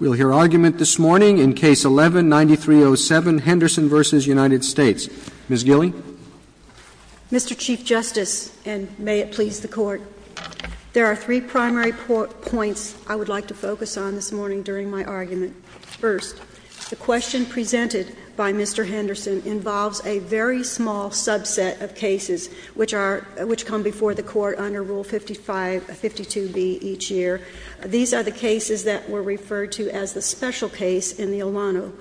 We'll hear argument this morning in Case 11-9307, Henderson v. United States. Ms. Gilley. Mr. Chief Justice, and may it please the Court, there are three primary points I would like to focus on this morning during my argument. First, the question presented by Mr. Henderson involves a very small subset of cases which come before the Court under Rule 55-52b each year. These are the cases that were referred to as the special case in the Olano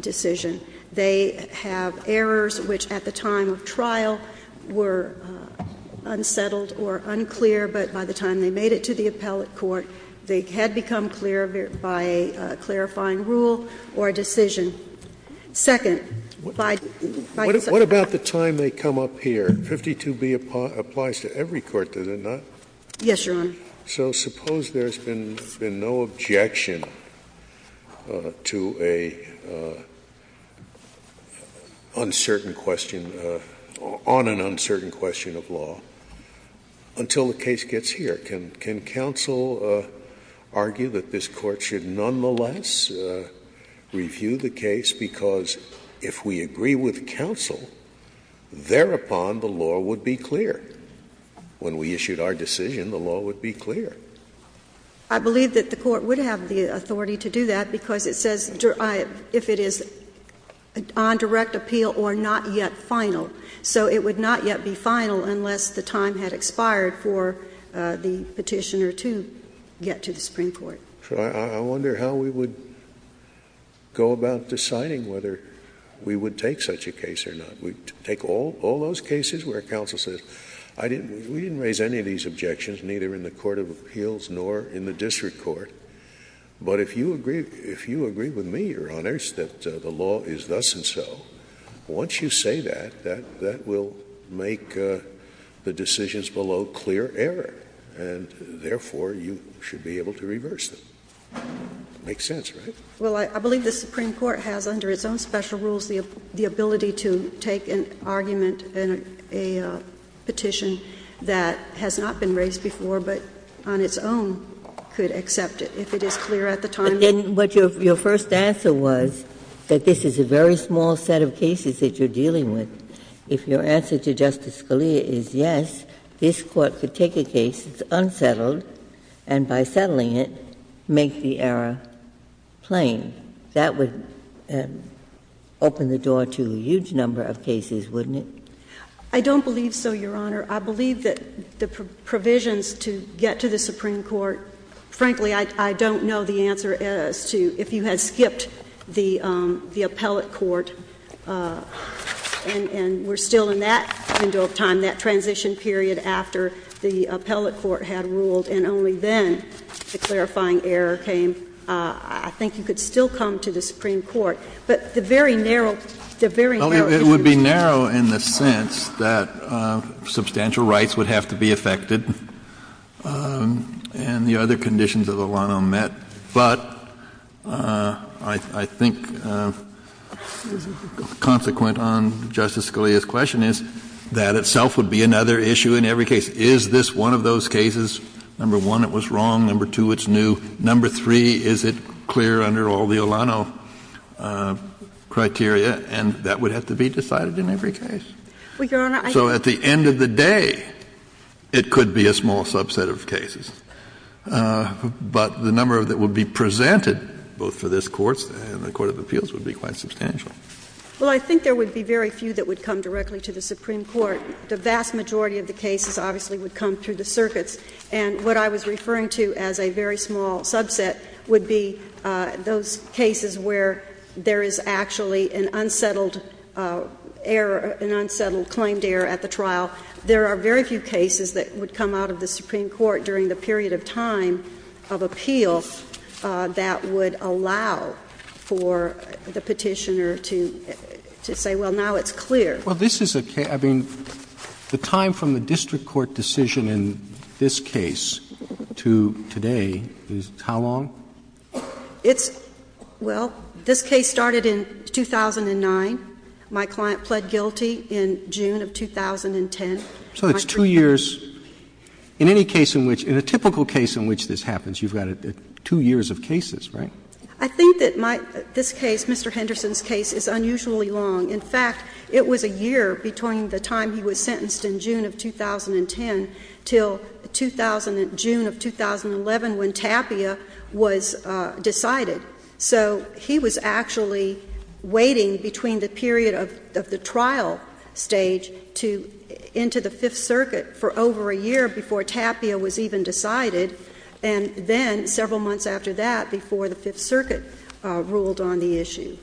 decision. They have errors which, at the time of trial, were unsettled or unclear, but by the time they made it to the appellate court, they had become clear by a clarifying rule or a decision. Second, by the second— What about the time they come up here? 52b applies to every court, does it not? Yes, Your Honor. So suppose there's been no objection to a uncertain question, on an uncertain question of law, until the case gets here. Can counsel argue that this Court should nonetheless review the case? Because if we agree with counsel, thereupon the law would be clear. When we issued our decision, the law would be clear. I believe that the Court would have the authority to do that, because it says if it is on direct appeal or not yet final. So it would not yet be final unless the time had expired for the Petitioner to get to the Supreme Court. I wonder how we would go about deciding whether we would take such a case or not. We'd take all those cases where counsel says, we didn't raise any of these objections, neither in the court of appeals nor in the district court. But if you agree with me, Your Honors, that the law is thus and so, once you say that, that will make the decisions below clear error. And therefore, you should be able to reverse them. Makes sense, right? Well, I believe the Supreme Court has, under its own special rules, the ability to take an argument in a petition that has not been raised before, but on its own could accept it if it is clear at the time. But your first answer was that this is a very small set of cases that you're dealing with. If your answer to Justice Scalia is yes, this Court could take a case, it's unsettled, and by settling it, make the error plain, that would open the door to a huge number of cases, wouldn't it? I don't believe so, Your Honor. I believe that the provisions to get to the Supreme Court, frankly, I don't know the answer as to if you had skipped the appellate court, and we're still in that window of time, that transition period after the appellate court had ruled, and only then the clarifying error came. I think you could still come to the Supreme Court. But the very narrow, the very narrow issues. Well, it would be narrow in the sense that substantial rights would have to be affected and the other conditions that Alano met. But I think, consequent on Justice Scalia's question, is that itself would be another issue in every case. Is this one of those cases? Number one, it was wrong. Number two, it's new. Number three, is it clear under all the Alano criteria? And that would have to be decided in every case. So at the end of the day, it could be a small subset of cases. But the number that would be presented, both for this Court and the Court of Appeals, would be quite substantial. Well, I think there would be very few that would come directly to the Supreme Court. The vast majority of the cases, obviously, would come through the circuits. And what I was referring to as a very small subset would be those cases where there is actually an unsettled error, an unsettled claimed error at the trial. There are very few cases that would come out of the Supreme Court during the period of time of appeal that would allow for the petitioner to say, well, now it's clear. Well, this is a case — I mean, the time from the district court decision in this case to today is how long? It's — well, this case started in 2009. My client pled guilty in June of 2010. So it's two years. In any case in which — in a typical case in which this happens, you've got two years of cases, right? I think that my — this case, Mr. Henderson's case, is unusually long. In fact, it was a year between the time he was sentenced in June of 2010 until June of 2011 when Tapia was decided. So he was actually waiting between the period of the trial stage to — into the Fifth Circuit for over a year before Tapia was even decided, and then several months after that, before the Fifth Circuit ruled on the issue.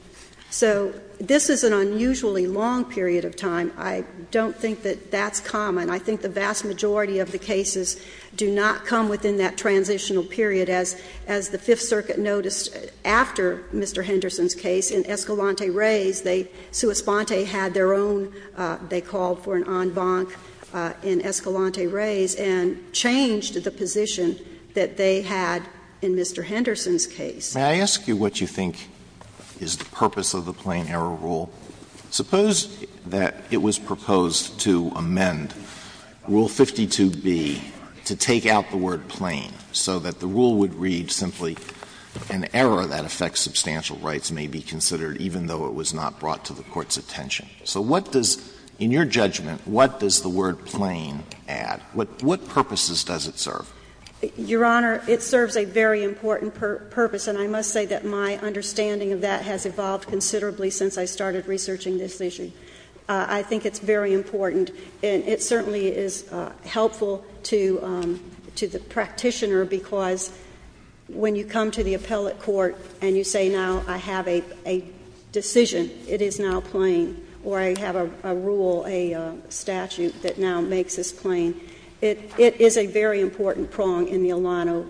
So this is an unusually long period of time. I don't think that that's common. I think the vast majority of the cases do not come within that transitional period, as the Fifth Circuit noticed after Mr. Henderson's case in Escalante Reyes. They — Suis Ponte had their own — they called for an en banc in Escalante Reyes and changed the position that they had in Mr. Henderson's case. May I ask you what you think is the purpose of the Plain Error Rule? Suppose that it was proposed to amend Rule 52b to take out the word plain so that the rule would read simply, an error that affects substantial rights may be considered even though it was not brought to the Court's attention. So what does — in your judgment, what does the word plain add? What purposes does it serve? Your Honor, it serves a very important purpose. And I must say that my understanding of that has evolved considerably since I started researching this issue. I think it's very important. And it certainly is helpful to the practitioner, because when you come to the appellate court and you say, now I have a decision, it is now plain, or I have a rule, a statute that now makes this plain, it is a very important prong in the Alano.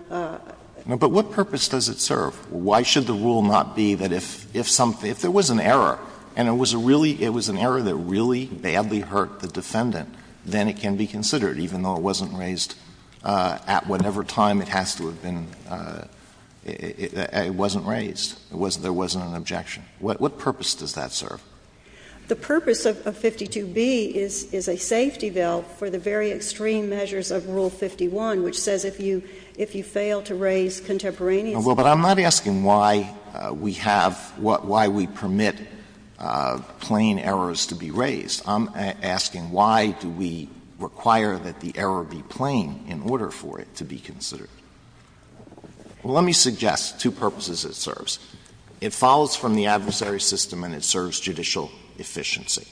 But what purpose does it serve? Why should the rule not be that if something — if there was an error, and it was a really — it was an error that really badly hurt the defendant, then it can be considered even though it wasn't raised at whatever time it has to have been — it wasn't raised, there wasn't an objection. What purpose does that serve? The purpose of 52b is a safety bill for the very extreme measures of Rule 51, which says if you fail to raise contemporaneous— Alito, but I'm not asking why we have — why we permit plain errors to be raised. I'm asking why do we require that the error be plain in order for it to be considered? Well, let me suggest two purposes it serves. It follows from the adversary system and it serves judicial efficiency.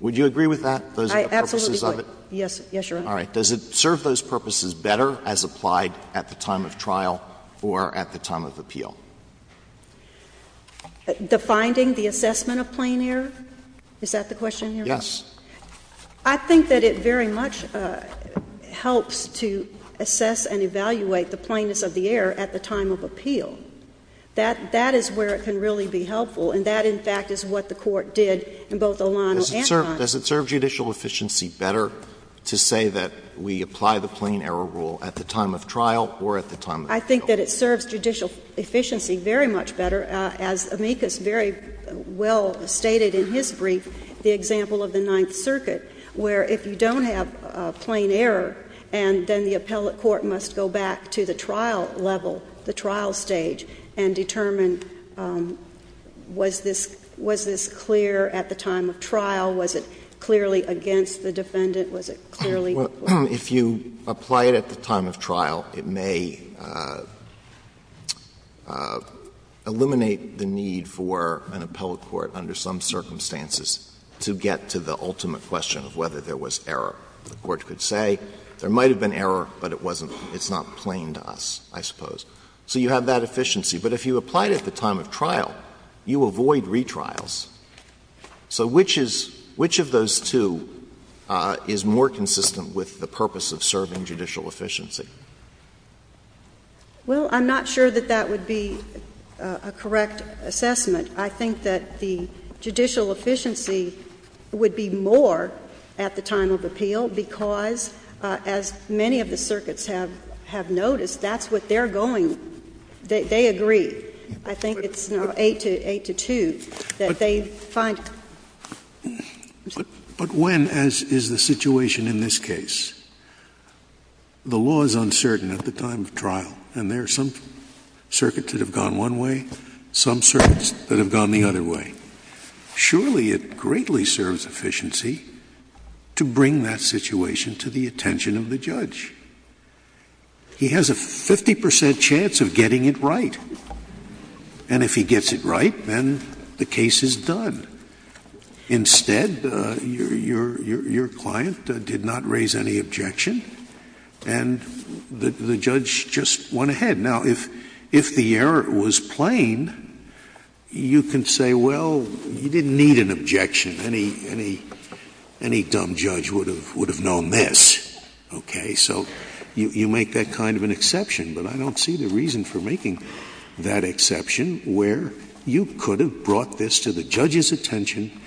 Would you agree with that? Those are the purposes of it? Yes, Your Honor. All right. Does it serve those purposes better as applied at the time of trial or at the time of appeal? The finding, the assessment of plain error? Is that the question, Your Honor? Yes. I think that it very much helps to assess and evaluate the plainness of the error at the time of appeal. That — that is where it can really be helpful, and that, in fact, is what the Court did in both O'Connell and— Does it serve judicial efficiency better to say that we apply the plain error rule at the time of trial or at the time of appeal? I think that it serves judicial efficiency very much better. As amicus very well stated in his brief, the example of the Ninth Circuit, where if you don't have plain error and then the appellate court must go back to the trial level, the trial stage, and determine was this — was this clear at the time of trial was it clearly against the defendant, was it clearly— If you apply it at the time of trial, it may eliminate the need for an appellate court under some circumstances to get to the ultimate question of whether there was error. The Court could say there might have been error, but it wasn't — it's not plain to us, I suppose. So you have that efficiency. But if you apply it at the time of trial, you avoid retrials. So which is — which of those two is more consistent with the purpose of serving judicial efficiency? Well, I'm not sure that that would be a correct assessment. I think that the judicial efficiency would be more at the time of appeal because, as many of the circuits have noticed, that's what they're going — they agree. I think it's 8 to 2 that they find it. But when, as is the situation in this case, the law is uncertain at the time of trial, and there are some circuits that have gone one way, some circuits that have gone the other way, surely it greatly serves efficiency to bring that situation to the attention of the judge. He has a 50 percent chance of getting it right. And if he gets it right, then the case is done. Instead, your client did not raise any objection, and the judge just went ahead. Now, if the error was plain, you can say, well, you didn't need an objection. Any dumb judge would have known this. Okay? So you make that kind of an exception, but I don't see the reason for making that exception where you could have brought this to the judge's attention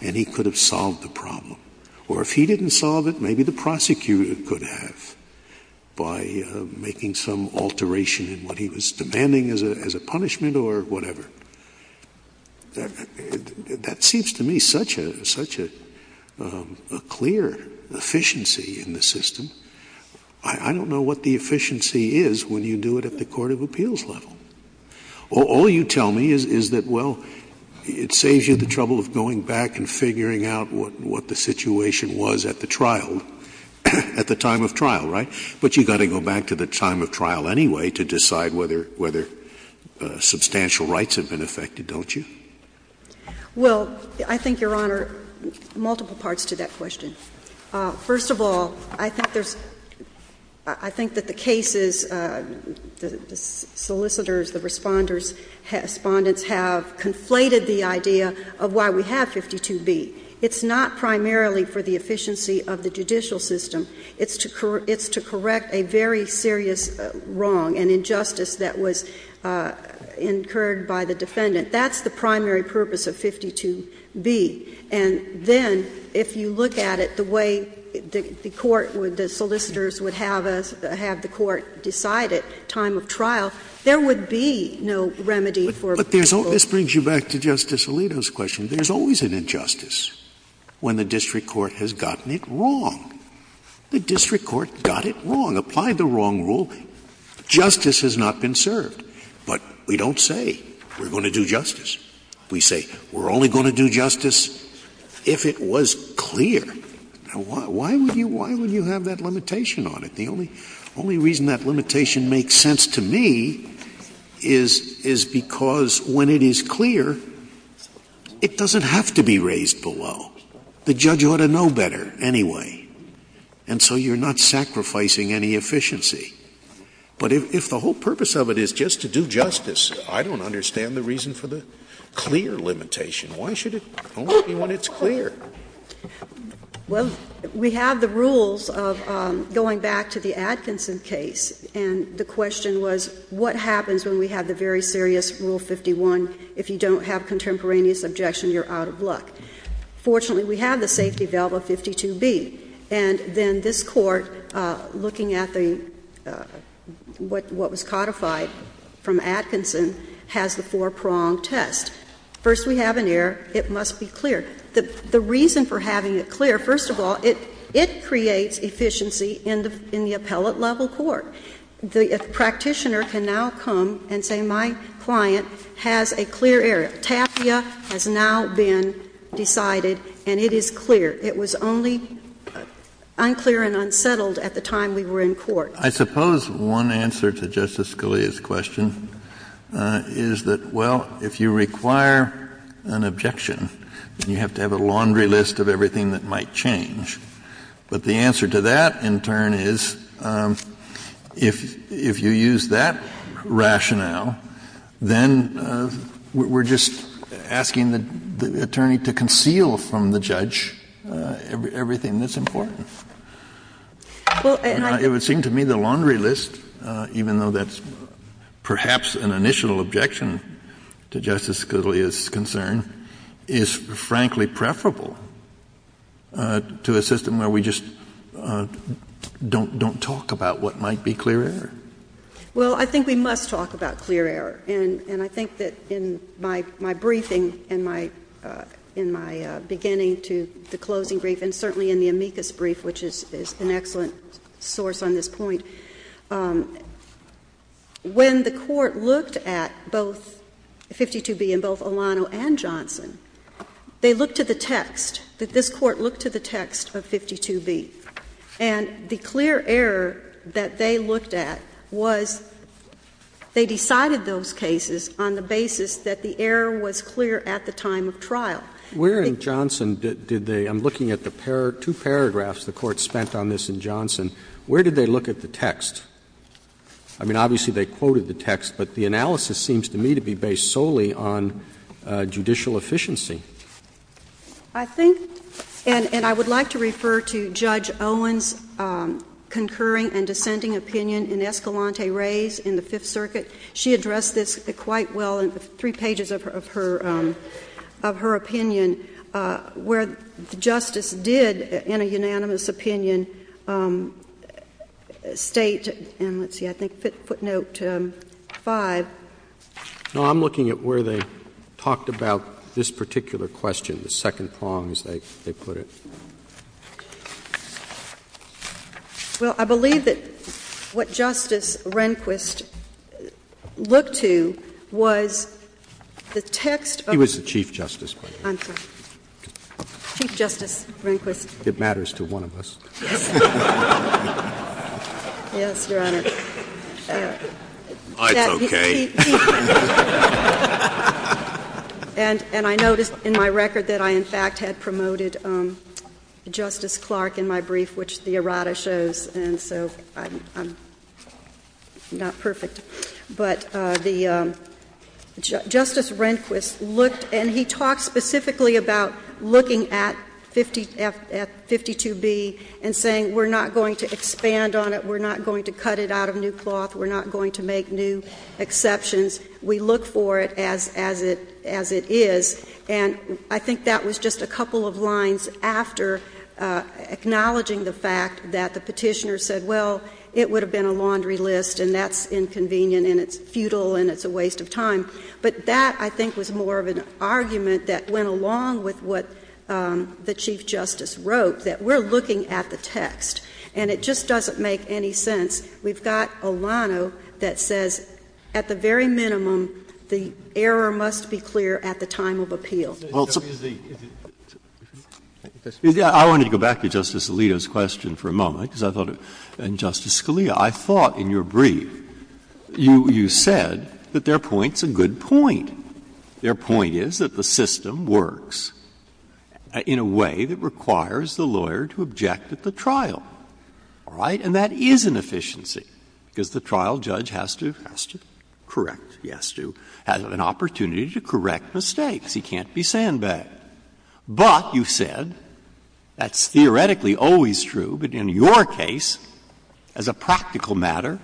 and he could have solved the problem. Or if he didn't solve it, maybe the prosecutor could have by making some alteration in what he was demanding as a punishment or whatever. That seems to me such a clear efficiency in the system. I don't know what the efficiency is when you do it at the court of appeals level. All you tell me is that, well, it saves you the trouble of going back and figuring out what the situation was at the trial, at the time of trial, right? But you've got to go back to the time of trial anyway to decide whether substantial rights have been affected, don't you? Well, I think, Your Honor, multiple parts to that question. First of all, I think there's — I think that the cases, the solicitors, the responders, respondents have conflated the idea of why we have 52B. It's not primarily for the efficiency of the judicial system. It's to correct a very serious wrong, an injustice that was incurred by the defendant. That's the primary purpose of 52B. And then if you look at it the way the court would — the solicitors would have the court decide at time of trial, there would be no remedy for people. But there's — this brings you back to Justice Alito's question. There's always an injustice when the district court has gotten it wrong. The district court got it wrong, applied the wrong ruling. Justice has not been served. But we don't say we're going to do justice. We say we're only going to do justice if it was clear. Now, why would you have that limitation on it? The only reason that limitation makes sense to me is because when it is clear, it doesn't have to be raised below. The judge ought to know better anyway. And so you're not sacrificing any efficiency. But if the whole purpose of it is just to do justice, I don't understand the reason for the clear limitation. Why should it only be when it's clear? Well, we have the rules of — going back to the Atkinson case, and the question was what happens when we have the very serious Rule 51 if you don't have contemporaneous objection, you're out of luck. Fortunately, we have the safety valve of 52B. And then this Court, looking at the — what was codified from Atkinson, has the four-prong test. First, we have an error. It must be clear. The reason for having it clear, first of all, it creates efficiency in the appellate-level court. The practitioner can now come and say, my client has a clear error. TAFIA has now been decided, and it is clear. It was only unclear and unsettled at the time we were in court. I suppose one answer to Justice Scalia's question is that, well, if you require an objection, you have to have a laundry list of everything that might change. But the answer to that, in turn, is if you use that rationale, then we're just asking the attorney to conceal from the judge everything that's important. And it would seem to me the laundry list, even though that's perhaps an initial objection to Justice Scalia's concern, is, frankly, preferable to a system where we just don't talk about what might be clear error. Well, I think we must talk about clear error. And I think that in my briefing and my — in my beginning to the closing brief, and certainly in the amicus brief, which is an excellent source on this point, when the Court looked at both 52B and both Olano and Johnson, they looked to the text, that this Court looked to the text of 52B. And the clear error that they looked at was they decided those cases on the basis that the error was clear at the time of trial. Where in Johnson did they — I'm looking at the two paragraphs the Court spent on this in Johnson. Where did they look at the text? I mean, obviously they quoted the text, but the analysis seems to me to be based solely on judicial efficiency. I think — and I would like to refer to Judge Owen's concurring and dissenting opinion in Escalante Rays in the Fifth Circuit. She addressed this quite well in the three pages of her — of her opinion, where Justice did, in a unanimous opinion, state — and let's see, I think footnote 5. No. I'm looking at where they talked about this particular question, the second prong, as they put it. Well, I believe that what Justice Rehnquist looked to was the text of — He was the Chief Justice. I'm sorry. Chief Justice Rehnquist. It matters to one of us. Yes, Your Honor. It's okay. And I noticed in my record that I, in fact, had promoted Justice Clark in my brief, which the errata shows, and so I'm not perfect. But the — Justice Rehnquist looked — and he talked specifically about looking at 52B and saying we're not going to expand on it, we're not going to cut it out of new cloth, we're not going to make new exceptions. We look for it as it is. And I think that was just a couple of lines after acknowledging the fact that the and it's futile and it's a waste of time. But that, I think, was more of an argument that went along with what the Chief Justice wrote, that we're looking at the text and it just doesn't make any sense. We've got Olano that says at the very minimum the error must be clear at the time of appeal. I wanted to go back to Justice Alito's question for a moment, because I thought Justice Scalia, I thought in your brief you said that their point's a good point. Their point is that the system works in a way that requires the lawyer to object at the trial. All right? And that is an efficiency, because the trial judge has to correct. He has to have an opportunity to correct mistakes. He can't be sandbagged. But you said, that's theoretically always true, but in your case, as a practical matter,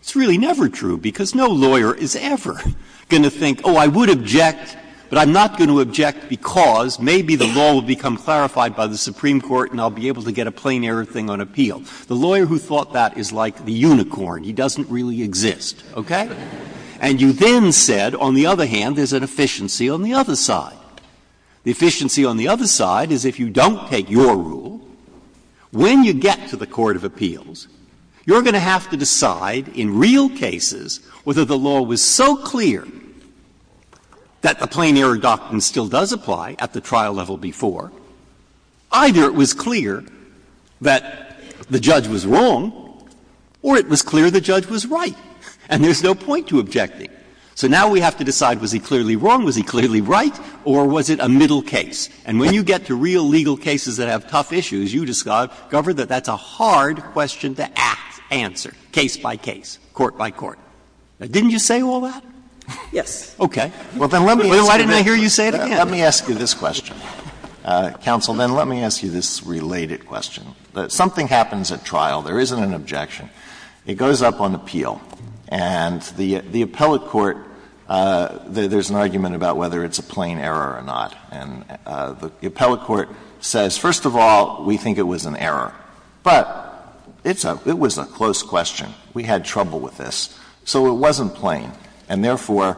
it's really never true, because no lawyer is ever going to think, oh, I would object, but I'm not going to object because maybe the law will become clarified by the Supreme Court and I'll be able to get a plain error thing on appeal. The lawyer who thought that is like the unicorn. He doesn't really exist. Okay? And you then said, on the other hand, there's an efficiency on the other side. The efficiency on the other side is if you don't take your rule, when you get to the court of appeals, you're going to have to decide in real cases whether the law was so clear that the plain error doctrine still does apply at the trial level before either it was clear that the judge was wrong or it was clear the judge was right. And there's no point to objecting. So now we have to decide, was he clearly wrong, was he clearly right, or was it a middle case? And when you get to real legal cases that have tough issues, you discover that that's a hard question to act, answer, case by case, court by court. Didn't you say all that? Yes. Okay. Why didn't I hear you say it again? Let me ask you this question, counsel. Then let me ask you this related question. Something happens at trial. There isn't an objection. It goes up on appeal. And the appellate court, there's an argument about whether it's a plain error or not. And the appellate court says, first of all, we think it was an error. But it was a close question. We had trouble with this. So it wasn't plain. And therefore,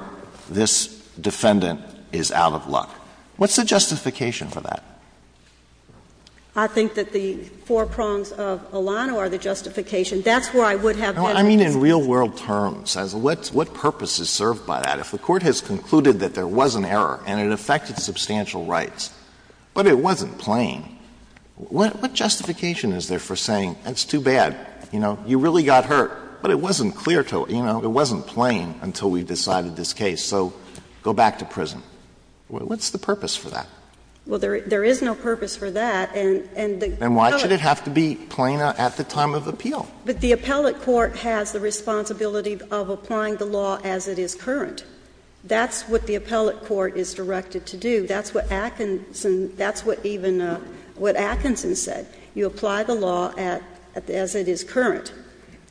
this defendant is out of luck. What's the justification for that? I think that the four prongs of Alano are the justification. That's where I would have better reason. I mean, in real-world terms, what purpose is served by that? If the Court has concluded that there was an error and it affected substantial rights, but it wasn't plain, what justification is there for saying, that's too bad, you know, you really got hurt, but it wasn't clear to us, you know, it wasn't plain until we decided this case, so go back to prison? What's the purpose for that? Well, there is no purpose for that, and the appellate court has no purpose for that. And why should it have to be plain at the time of appeal? But the appellate court has the responsibility of applying the law as it is current. That's what the appellate court is directed to do. That's what Atkinson — that's what even — what Atkinson said. You apply the law at — as it is current.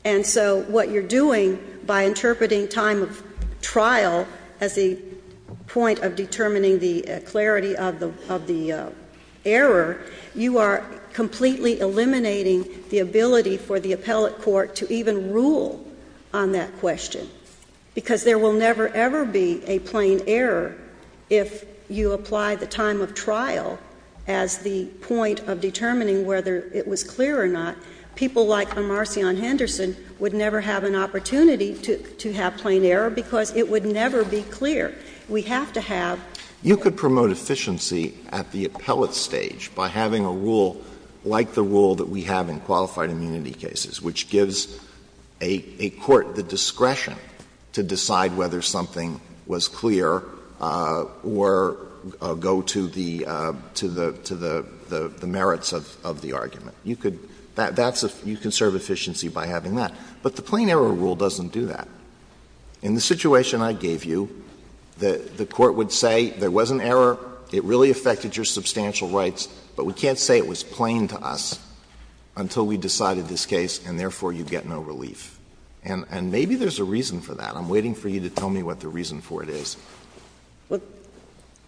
And so what you're doing by interpreting time of trial as the point of determining the clarity of the — of the error, you are completely eliminating the ability for the appellate court to even rule on that question, because there will never, ever be a plain error if you apply the time of trial as the point of determining whether it was clear or not. People like Marcion Henderson would never have an opportunity to have plain error because it would never be clear. We have to have — You could promote efficiency at the appellate stage by having a rule like the rule that we have in qualified immunity cases, which gives a court the discretion to decide whether something was clear or go to the — to the merits of the argument. You could — that's a — you can serve efficiency by having that. But the plain error rule doesn't do that. In the situation I gave you, the Court would say there was an error, it really affected your substantial rights, but we can't say it was plain to us until we decided this case and, therefore, you get no relief. And maybe there's a reason for that. I'm waiting for you to tell me what the reason for it is. Well,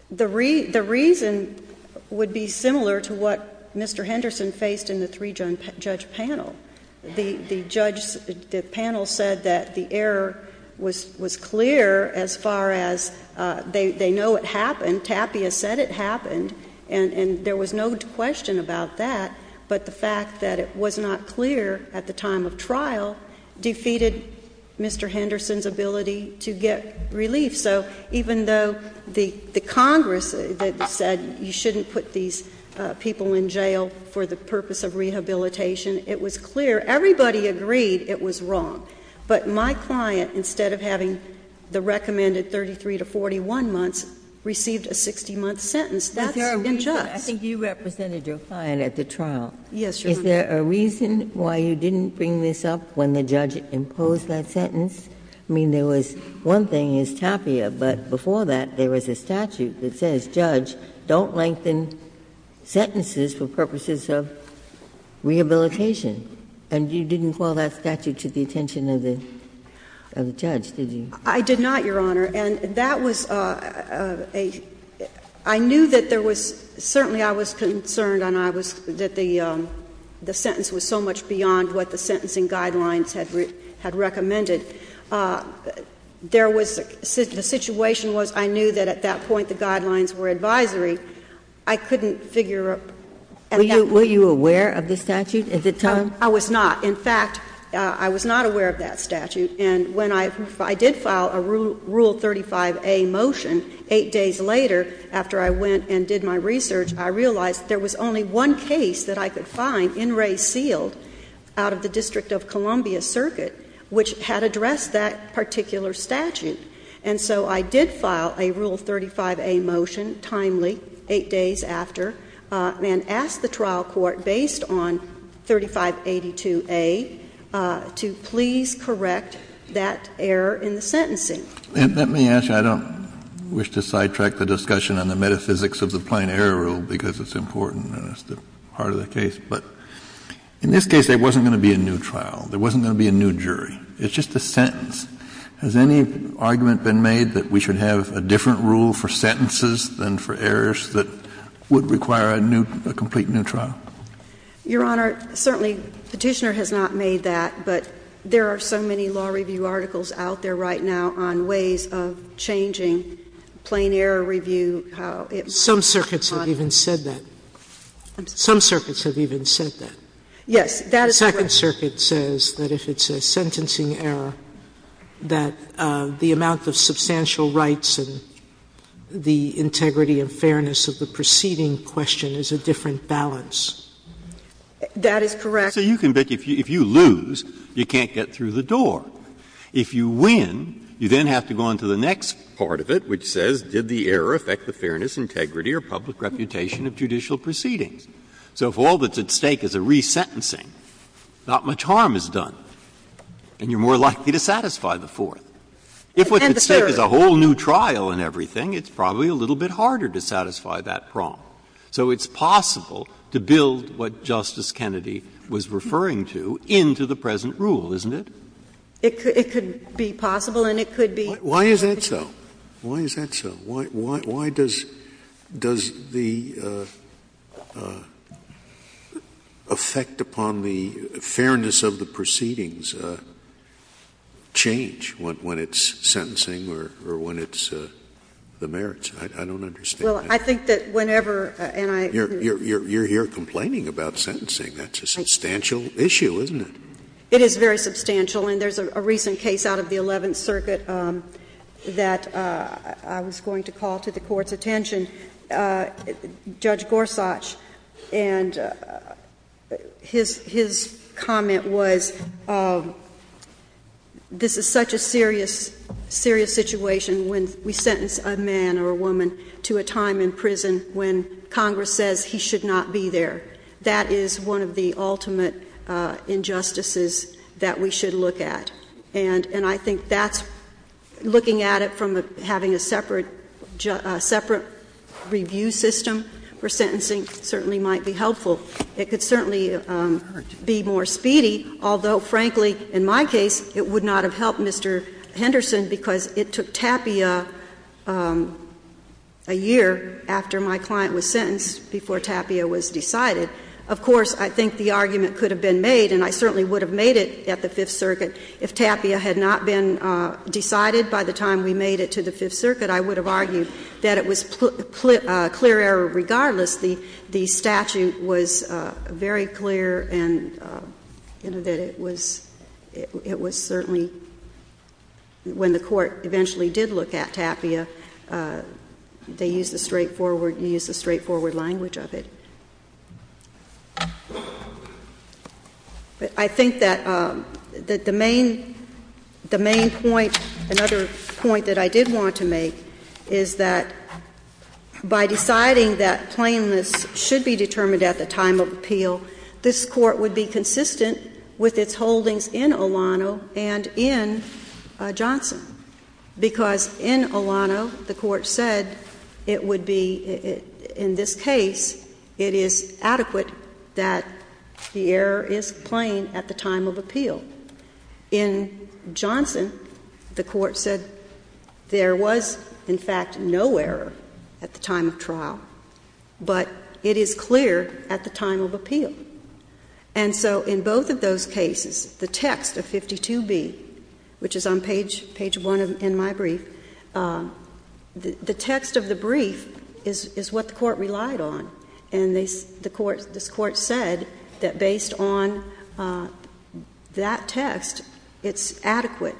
the reason would be similar to what Mr. Henderson faced in the three-judge panel. The judge — the panel said that the error was clear as far as they know it happened. Tapia said it happened, and there was no question about that. But the fact that it was not clear at the time of trial defeated Mr. Henderson's ability to get relief. So even though the Congress said you shouldn't put these people in jail for the purpose of rehabilitation, it was clear, everybody agreed it was wrong. But my client, instead of having the recommended 33 to 41 months, received a 60-month sentence. That's injust. Ginsburg. I think you represented your client at the trial. Yes, Your Honor. Is there a reason why you didn't bring this up when the judge imposed that sentence? I mean, there was — one thing is Tapia, but before that, there was a statute that says, Judge, don't lengthen sentences for purposes of rehabilitation. And you didn't call that statute to the attention of the judge, did you? I did not, Your Honor. And that was a — I knew that there was — certainly I was concerned, and I was — that the sentence was so much beyond what the sentencing guidelines had recommended. There was — the situation was I knew that at that point the guidelines were advisory. I couldn't figure — Were you aware of the statute? Is it time? I was not. In fact, I was not aware of that statute. And when I — I did file a Rule 35a motion eight days later, after I went and did my research, I realized there was only one case that I could find, in re sealed, out of the District of Columbia circuit, which had addressed that particular statute. And so I did file a Rule 35a motion, timely, eight days after, and asked the trial court, based on 3582a, to please correct that error in the sentencing. And let me ask you — I don't wish to sidetrack the discussion on the metaphysics of the plain error rule, because it's important and it's the heart of the case. But in this case, there wasn't going to be a new trial. There wasn't going to be a new jury. It's just a sentence. Has any argument been made that we should have a different rule for sentences than for errors that would require a new — a complete new trial? Your Honor, certainly Petitioner has not made that. But there are so many law review articles out there right now on ways of changing plain error review, how it might be modified. Some circuits have even said that. Some circuits have even said that. Yes. That is correct. The Second Circuit says that if it's a sentencing error, that the amount of substantial rights and the integrity and fairness of the preceding question is a different balance. That is correct. So you can bet, if you lose, you can't get through the door. If you win, you then have to go on to the next part of it, which says, did the error affect the fairness, integrity, or public reputation of judicial proceedings? So if all that's at stake is a resentencing, not much harm is done. And you're more likely to satisfy the fourth. If what's at stake is a whole new trial and everything, it's probably a little bit harder to satisfy that prong. So it's possible to build what Justice Kennedy was referring to into the present rule, isn't it? It could be possible, and it could be— Why is that so? Why is that so? Why does the effect upon the fairness of the proceedings change when it's sentencing or when it's the merits? I don't understand that. Well, I think that whenever— You're here complaining about sentencing. That's a substantial issue, isn't it? It is very substantial. And there's a recent case out of the Eleventh Circuit that I was going to call to the Court's attention, Judge Gorsuch, and his comment was, this is such a serious situation when we sentence a man or a woman to a time in prison when Congress says he should not be there. That is one of the ultimate injustices that we should look at. And I think that's looking at it from having a separate review system for sentencing certainly might be helpful. It could certainly be more speedy, although, frankly, in my case, it would not have helped Mr. Henderson because it took Tapia a year after my client was sentenced before Tapia was decided. Of course, I think the argument could have been made, and I certainly would have made it at the Fifth Circuit, if Tapia had not been decided by the time we made it to the Fifth Circuit, I would have argued that it was clear error. Regardless, the statute was very clear and that it was certainly, when the Court eventually did look at Tapia, they used a straightforward language of it. I think that the main point, another point that I did want to make is that by deciding that plainness should be determined at the time of appeal, this Court would be consistent with its holdings in Olano and in Johnson because in Olano, the Court said it would be, in this case, it is adequate that the error is plain at the time of appeal. In Johnson, the Court said there was, in fact, no error at the time of trial, but it is clear at the time of appeal. And so in both of those cases, the text of 52B, which is on page one in my brief, the text of the brief is what the Court relied on. And this Court said that based on that text, it's adequate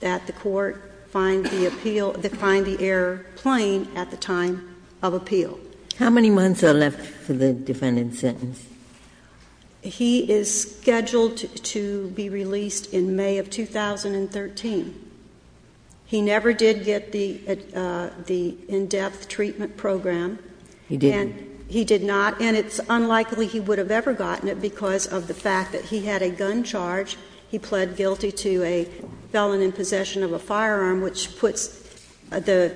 that the Court find the appeal, find the error plain at the time of appeal. How many months are left for the defendant's sentence? He is scheduled to be released in May of 2013. He never did get the in-depth treatment program. He didn't. He did not. And it's unlikely he would have ever gotten it because of the fact that he had a gun charge. He pled guilty to a felon in possession of a firearm, which puts the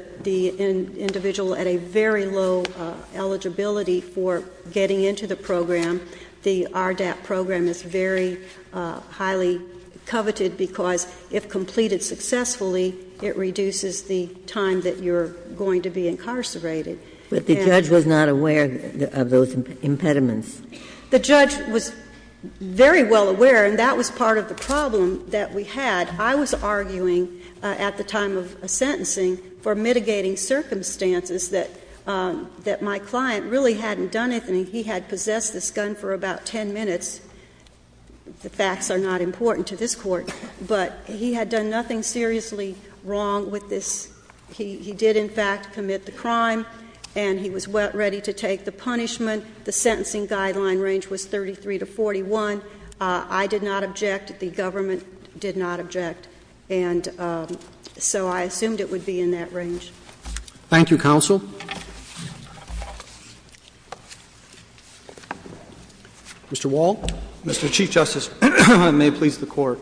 individual at a very low eligibility for getting into the program. The RDAP program is very highly coveted because if completed successfully, it reduces the time that you're going to be incarcerated. But the judge was not aware of those impediments. The judge was very well aware, and that was part of the problem that we had. I was arguing at the time of sentencing for mitigating circumstances that my client really hadn't done anything. He had possessed this gun for about 10 minutes. The facts are not important to this Court. But he had done nothing seriously wrong with this. He did, in fact, commit the crime, and he was ready to take the punishment. The sentencing guideline range was 33 to 41. I did not object. The government did not object. And so I assumed it would be in that range. Thank you, counsel. Mr. Wall. Mr. Chief Justice, I may please the Court.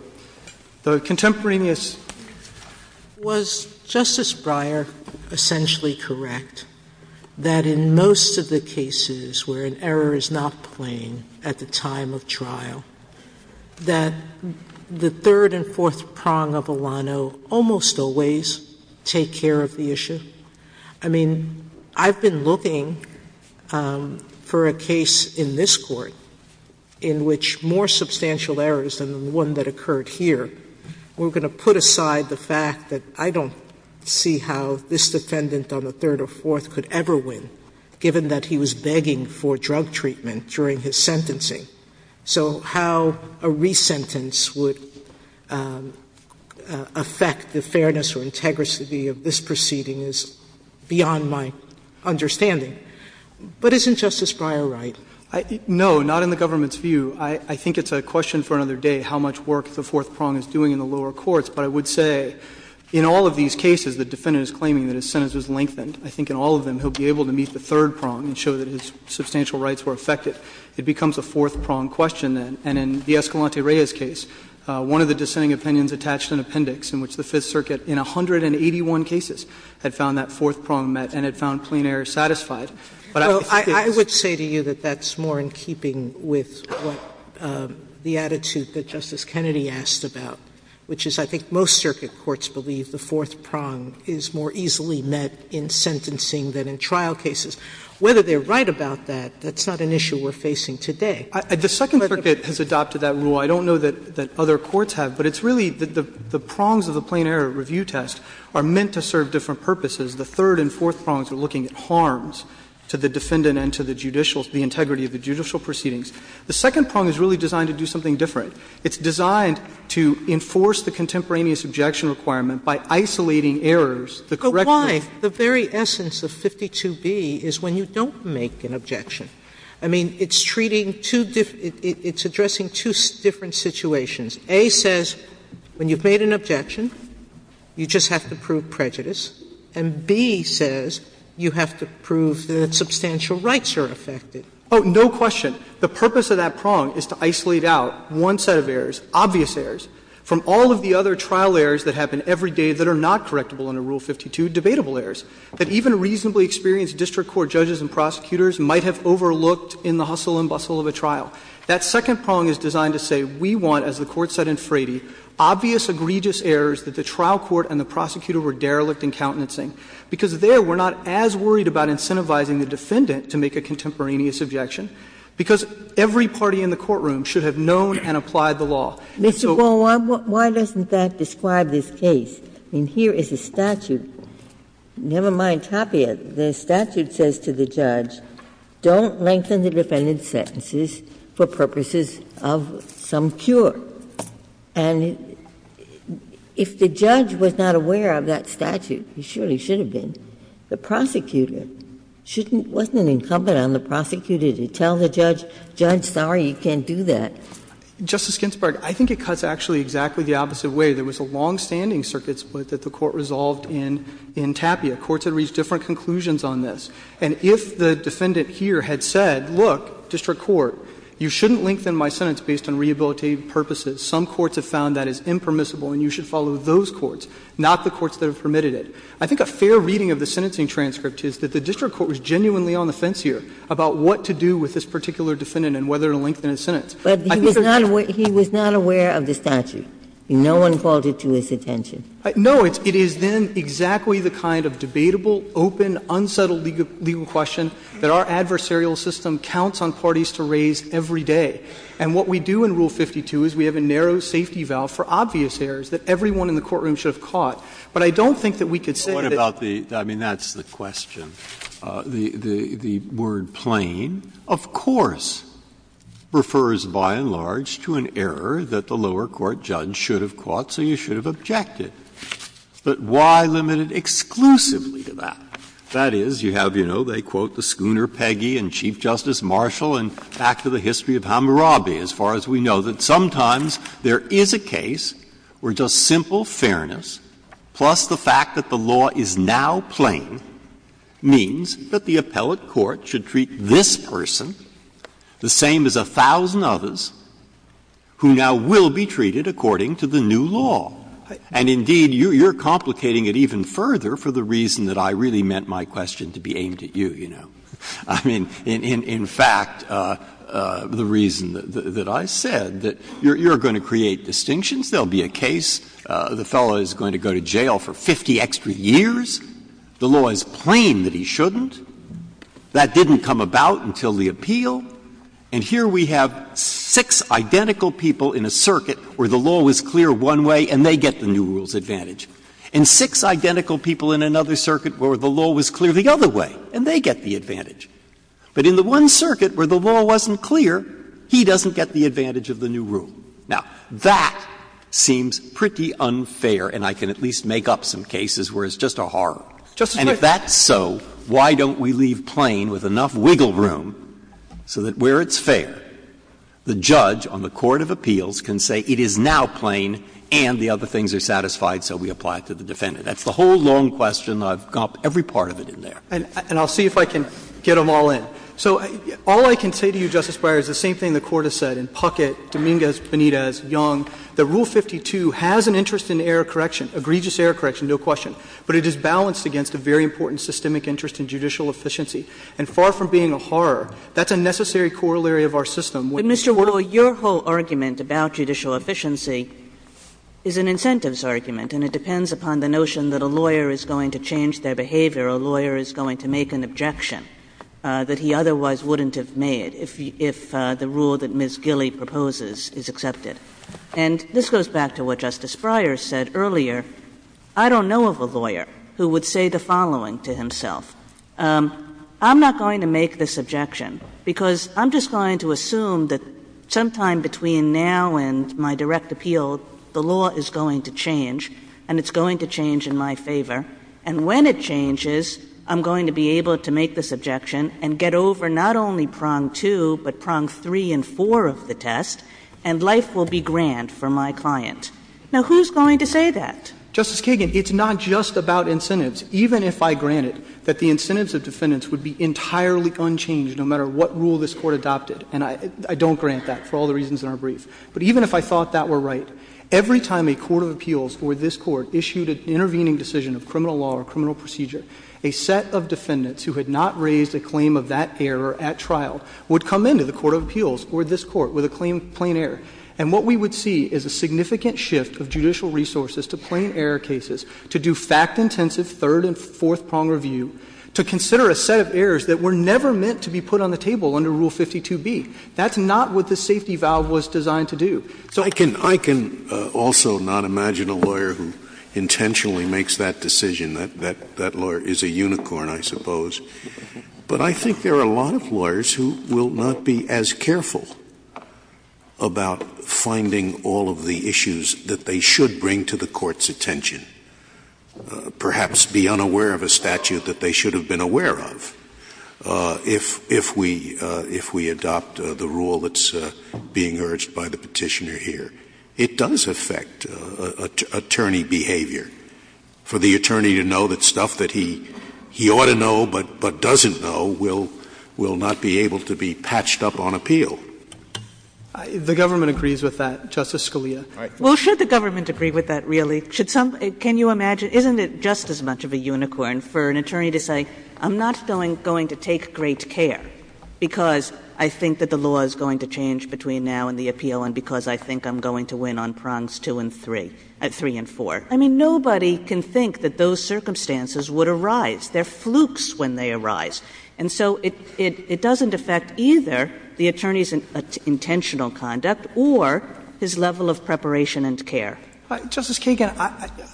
The contemporaneous- Was Justice Breyer essentially correct that in most of the cases where an error is not plain at the time of trial, that the third and fourth prong of Alano almost always take care of the issue? I mean, I've been looking for a case in this Court in which more substantial errors than the one that occurred here were going to put aside the fact that I don't see how this defendant on the third or fourth could ever win, given that he was begging for drug treatment during his sentencing. So how a resentence would affect the fairness or integrity of this proceeding is beyond my understanding. But isn't Justice Breyer right? No, not in the government's view. I think it's a question for another day how much work the fourth prong is doing in the lower courts. But I would say in all of these cases, the defendant is claiming that his sentence was lengthened. I think in all of them he'll be able to meet the third prong and show that his substantial rights were affected. It becomes a fourth prong question then. And in the Escalante-Reyes case, one of the dissenting opinions attached an appendix in which the Fifth Circuit in 181 cases had found that fourth prong met and had found plain error satisfied. But I would say to you that that's more in keeping with what the attitude that Justice Kennedy asked about, which is I think most circuit courts believe the fourth prong is more easily met in sentencing than in trial cases. Whether they're right about that, that's not an issue we're facing today. The Second Circuit has adopted that rule. I don't know that other courts have, but it's really the prongs of the plain error review test are meant to serve different purposes. The third and fourth prongs are looking at harms to the defendant and to the judicial to the integrity of the judicial proceedings. The second prong is really designed to do something different. It's designed to enforce the contemporaneous objection requirement by isolating errors, the correctness. Sotomayor, why the very essence of 52b is when you don't make an objection? I mean, it's treating two different – it's addressing two different situations. A says when you've made an objection, you just have to prove prejudice, and B says you have to prove that substantial rights are affected. Oh, no question. The purpose of that prong is to isolate out one set of errors, obvious errors, from all of the other trial errors that happen every day that are not correctable under Rule 52, debatable errors, that even reasonably experienced district court judges and prosecutors might have overlooked in the hustle and bustle of a trial. That second prong is designed to say, we want, as the Court said in Frady, obvious, egregious errors that the trial court and the prosecutor were derelict in countenancing, because there we're not as worried about incentivizing the defendant to make a contemporaneous objection, because every party in the courtroom should have known and applied the law. And so— Ginsburg. Why doesn't that describe this case? I mean, here is a statute. Never mind Tapia. The statute says to the judge, don't lengthen the defendant's sentences for purposes of some cure. And if the judge was not aware of that statute, he surely should have been, the prosecutor shouldn't – wasn't it incumbent on the prosecutor to tell the judge, judge, sorry, you can't do that? Justice Ginsburg, I think it cuts actually exactly the opposite way. There was a longstanding circuit split that the Court resolved in Tapia. Courts had reached different conclusions on this. And if the defendant here had said, look, district court, you shouldn't lengthen my sentence based on rehabilitative purposes, some courts have found that is impermissible and you should follow those courts, not the courts that have permitted it, I think a fair reading of the sentencing transcript is that the district court was genuinely on the fence here about what to do with this particular defendant and whether to lengthen I think that's the case. Ginsburg. But he was not aware of the statute. No one brought it to his attention. No. It is then exactly the kind of debatable, open, unsettled legal question that our adversarial system counts on parties to raise every day. And what we do in Rule 52 is we have a narrow safety valve for obvious errors that everyone in the courtroom should have caught. But I don't think that we could say that it's not. But what about the – I mean, that's the question. The word plain, of course, refers by and large to an error that the lower court judge should have caught, so you should have objected. But why limit it exclusively to that? That is, you have, you know, they quote the schooner Peggy and Chief Justice Marshall and back to the history of Hammurabi, as far as we know, that sometimes there is a case where just simple fairness, plus the fact that the law is now plain, means that the appellate court should treat this person the same as a thousand others who now will be treated according to the new law. And indeed, you're complicating it even further for the reason that I really meant my question to be aimed at you, you know. I mean, in fact, the reason that I said, that you're going to create distinctions. There will be a case, the fellow is going to go to jail for 50 extra years, the law is plain that he shouldn't, that didn't come about until the appeal, and here we have six identical people in a circuit where the law was clear one way and they get the new rule's advantage. And six identical people in another circuit where the law was clear the other way and they get the advantage. But in the one circuit where the law wasn't clear, he doesn't get the advantage of the new rule. Now, that seems pretty unfair, and I can at least make up some cases where it's just a horror. And if that's so, why don't we leave plain with enough wiggle room so that where it's fair, the judge on the court of appeals can say it is now plain and the other things are satisfied, so we apply it to the defendant. That's the whole long question. I've got every part of it in there. And I'll see if I can get them all in. So all I can say to you, Justice Breyer, is the same thing the Court has said in Puckett, Dominguez, Benitez, Young. That Rule 52 has an interest in error correction, egregious error correction, no question. But it is balanced against a very important systemic interest in judicial efficiency. And far from being a horror, that's a necessary corollary of our system. Kagan. Kagan. Kagan. Your whole argument about judicial efficiency is an incentives argument, and it depends upon the notion that a lawyer is going to change their behavior, a lawyer is going to make an objection that he otherwise wouldn't have made if the rule that Ms. Gilley proposes is accepted. And this goes back to what Justice Breyer said earlier, I don't know of a lawyer who would say the following to himself, I'm not going to make this objection because I'm just going to assume that sometime between now and my direct appeal, the law is going to change, and it's going to change in my favor, and when it changes, I'm going to be able to make this objection and get over not only prong two, but prong three and four of the test, and life will be grand for my client. Now, who's going to say that? Justice Kagan, it's not just about incentives. Even if I grant it, that the incentives of defendants would be entirely unchanged no matter what rule this Court adopted. And I don't grant that for all the reasons in our brief. But even if I thought that were right, every time a court of appeals or this Court issued an intervening decision of criminal law or criminal procedure, a set of defendants who had not raised a claim of that error at trial would come into the court of appeals or this Court with a claim of plain error. And what we would see is a significant shift of judicial resources to plain error cases, to do fact-intensive third and fourth prong review, to consider a set of errors that were never meant to be put on the table under Rule 52B. That's not what the safety valve was designed to do. So I can also not imagine a lawyer who intentionally makes that decision. That lawyer is a unicorn, I suppose. But I think there are a lot of lawyers who will not be as careful about finding all of the issues that they should bring to the Court's attention, perhaps be unaware of a statute that they should have been aware of, if we adopt the rule that's being urged by the Petitioner here. It does affect attorney behavior, for the attorney to know that stuff that he ought to know but doesn't know will not be able to be patched up on appeal. The government agrees with that, Justice Scalia. Well, should the government agree with that, really? Can you imagine, isn't it just as much of a unicorn for an attorney to say, I'm not going to take great care because I think that the law is going to change between now and the appeal and because I think I'm going to win on prongs two and three, three and four? I mean, nobody can think that those circumstances would arise. They're flukes when they arise. And so it doesn't affect either the attorney's intentional conduct or his level of preparation and care. Justice Kagan,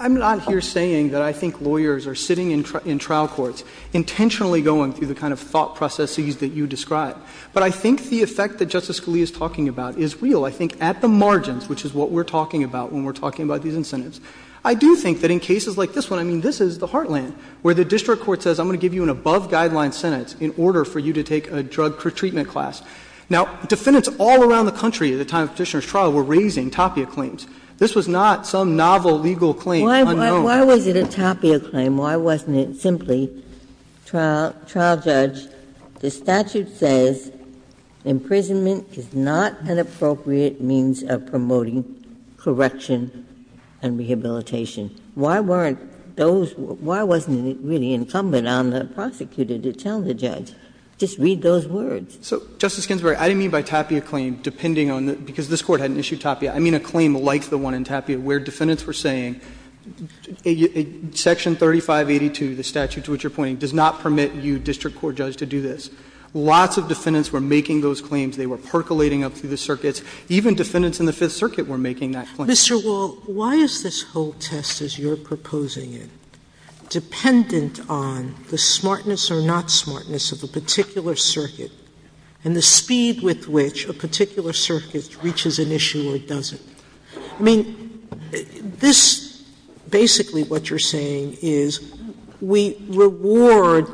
I'm not here saying that I think lawyers are sitting in trial courts intentionally going through the kind of thought processes that you describe. But I think the effect that Justice Scalia is talking about is real. I think at the margins, which is what we're talking about when we're talking about these incentives, I do think that in cases like this one, I mean, this is the heartland where the district court says, I'm going to give you an above-guideline sentence in order for you to take a drug treatment class. Now, defendants all around the country at the time of Petitioner's trial were raising topia claims. This was not some novel legal claim, unknown. Why was it a topia claim? Why wasn't it simply, trial judge, the statute says imprisonment is not an appropriate means of promoting correction and rehabilitation. Why weren't those – why wasn't it really incumbent on the prosecutor to tell the judge? Just read those words. So, Justice Ginsburg, I didn't mean by topia claim, depending on the – because this Court hadn't issued topia. I mean a claim like the one in topia where defendants were saying, section 3582, the statute to which you're pointing, does not permit you, district court judge, to do this. Lots of defendants were making those claims. They were percolating up through the circuits. Even defendants in the Fifth Circuit were making that claim. Sotomayor, why is this whole test, as you're proposing it, dependent on the smartness I mean, this, basically what you're saying is we reward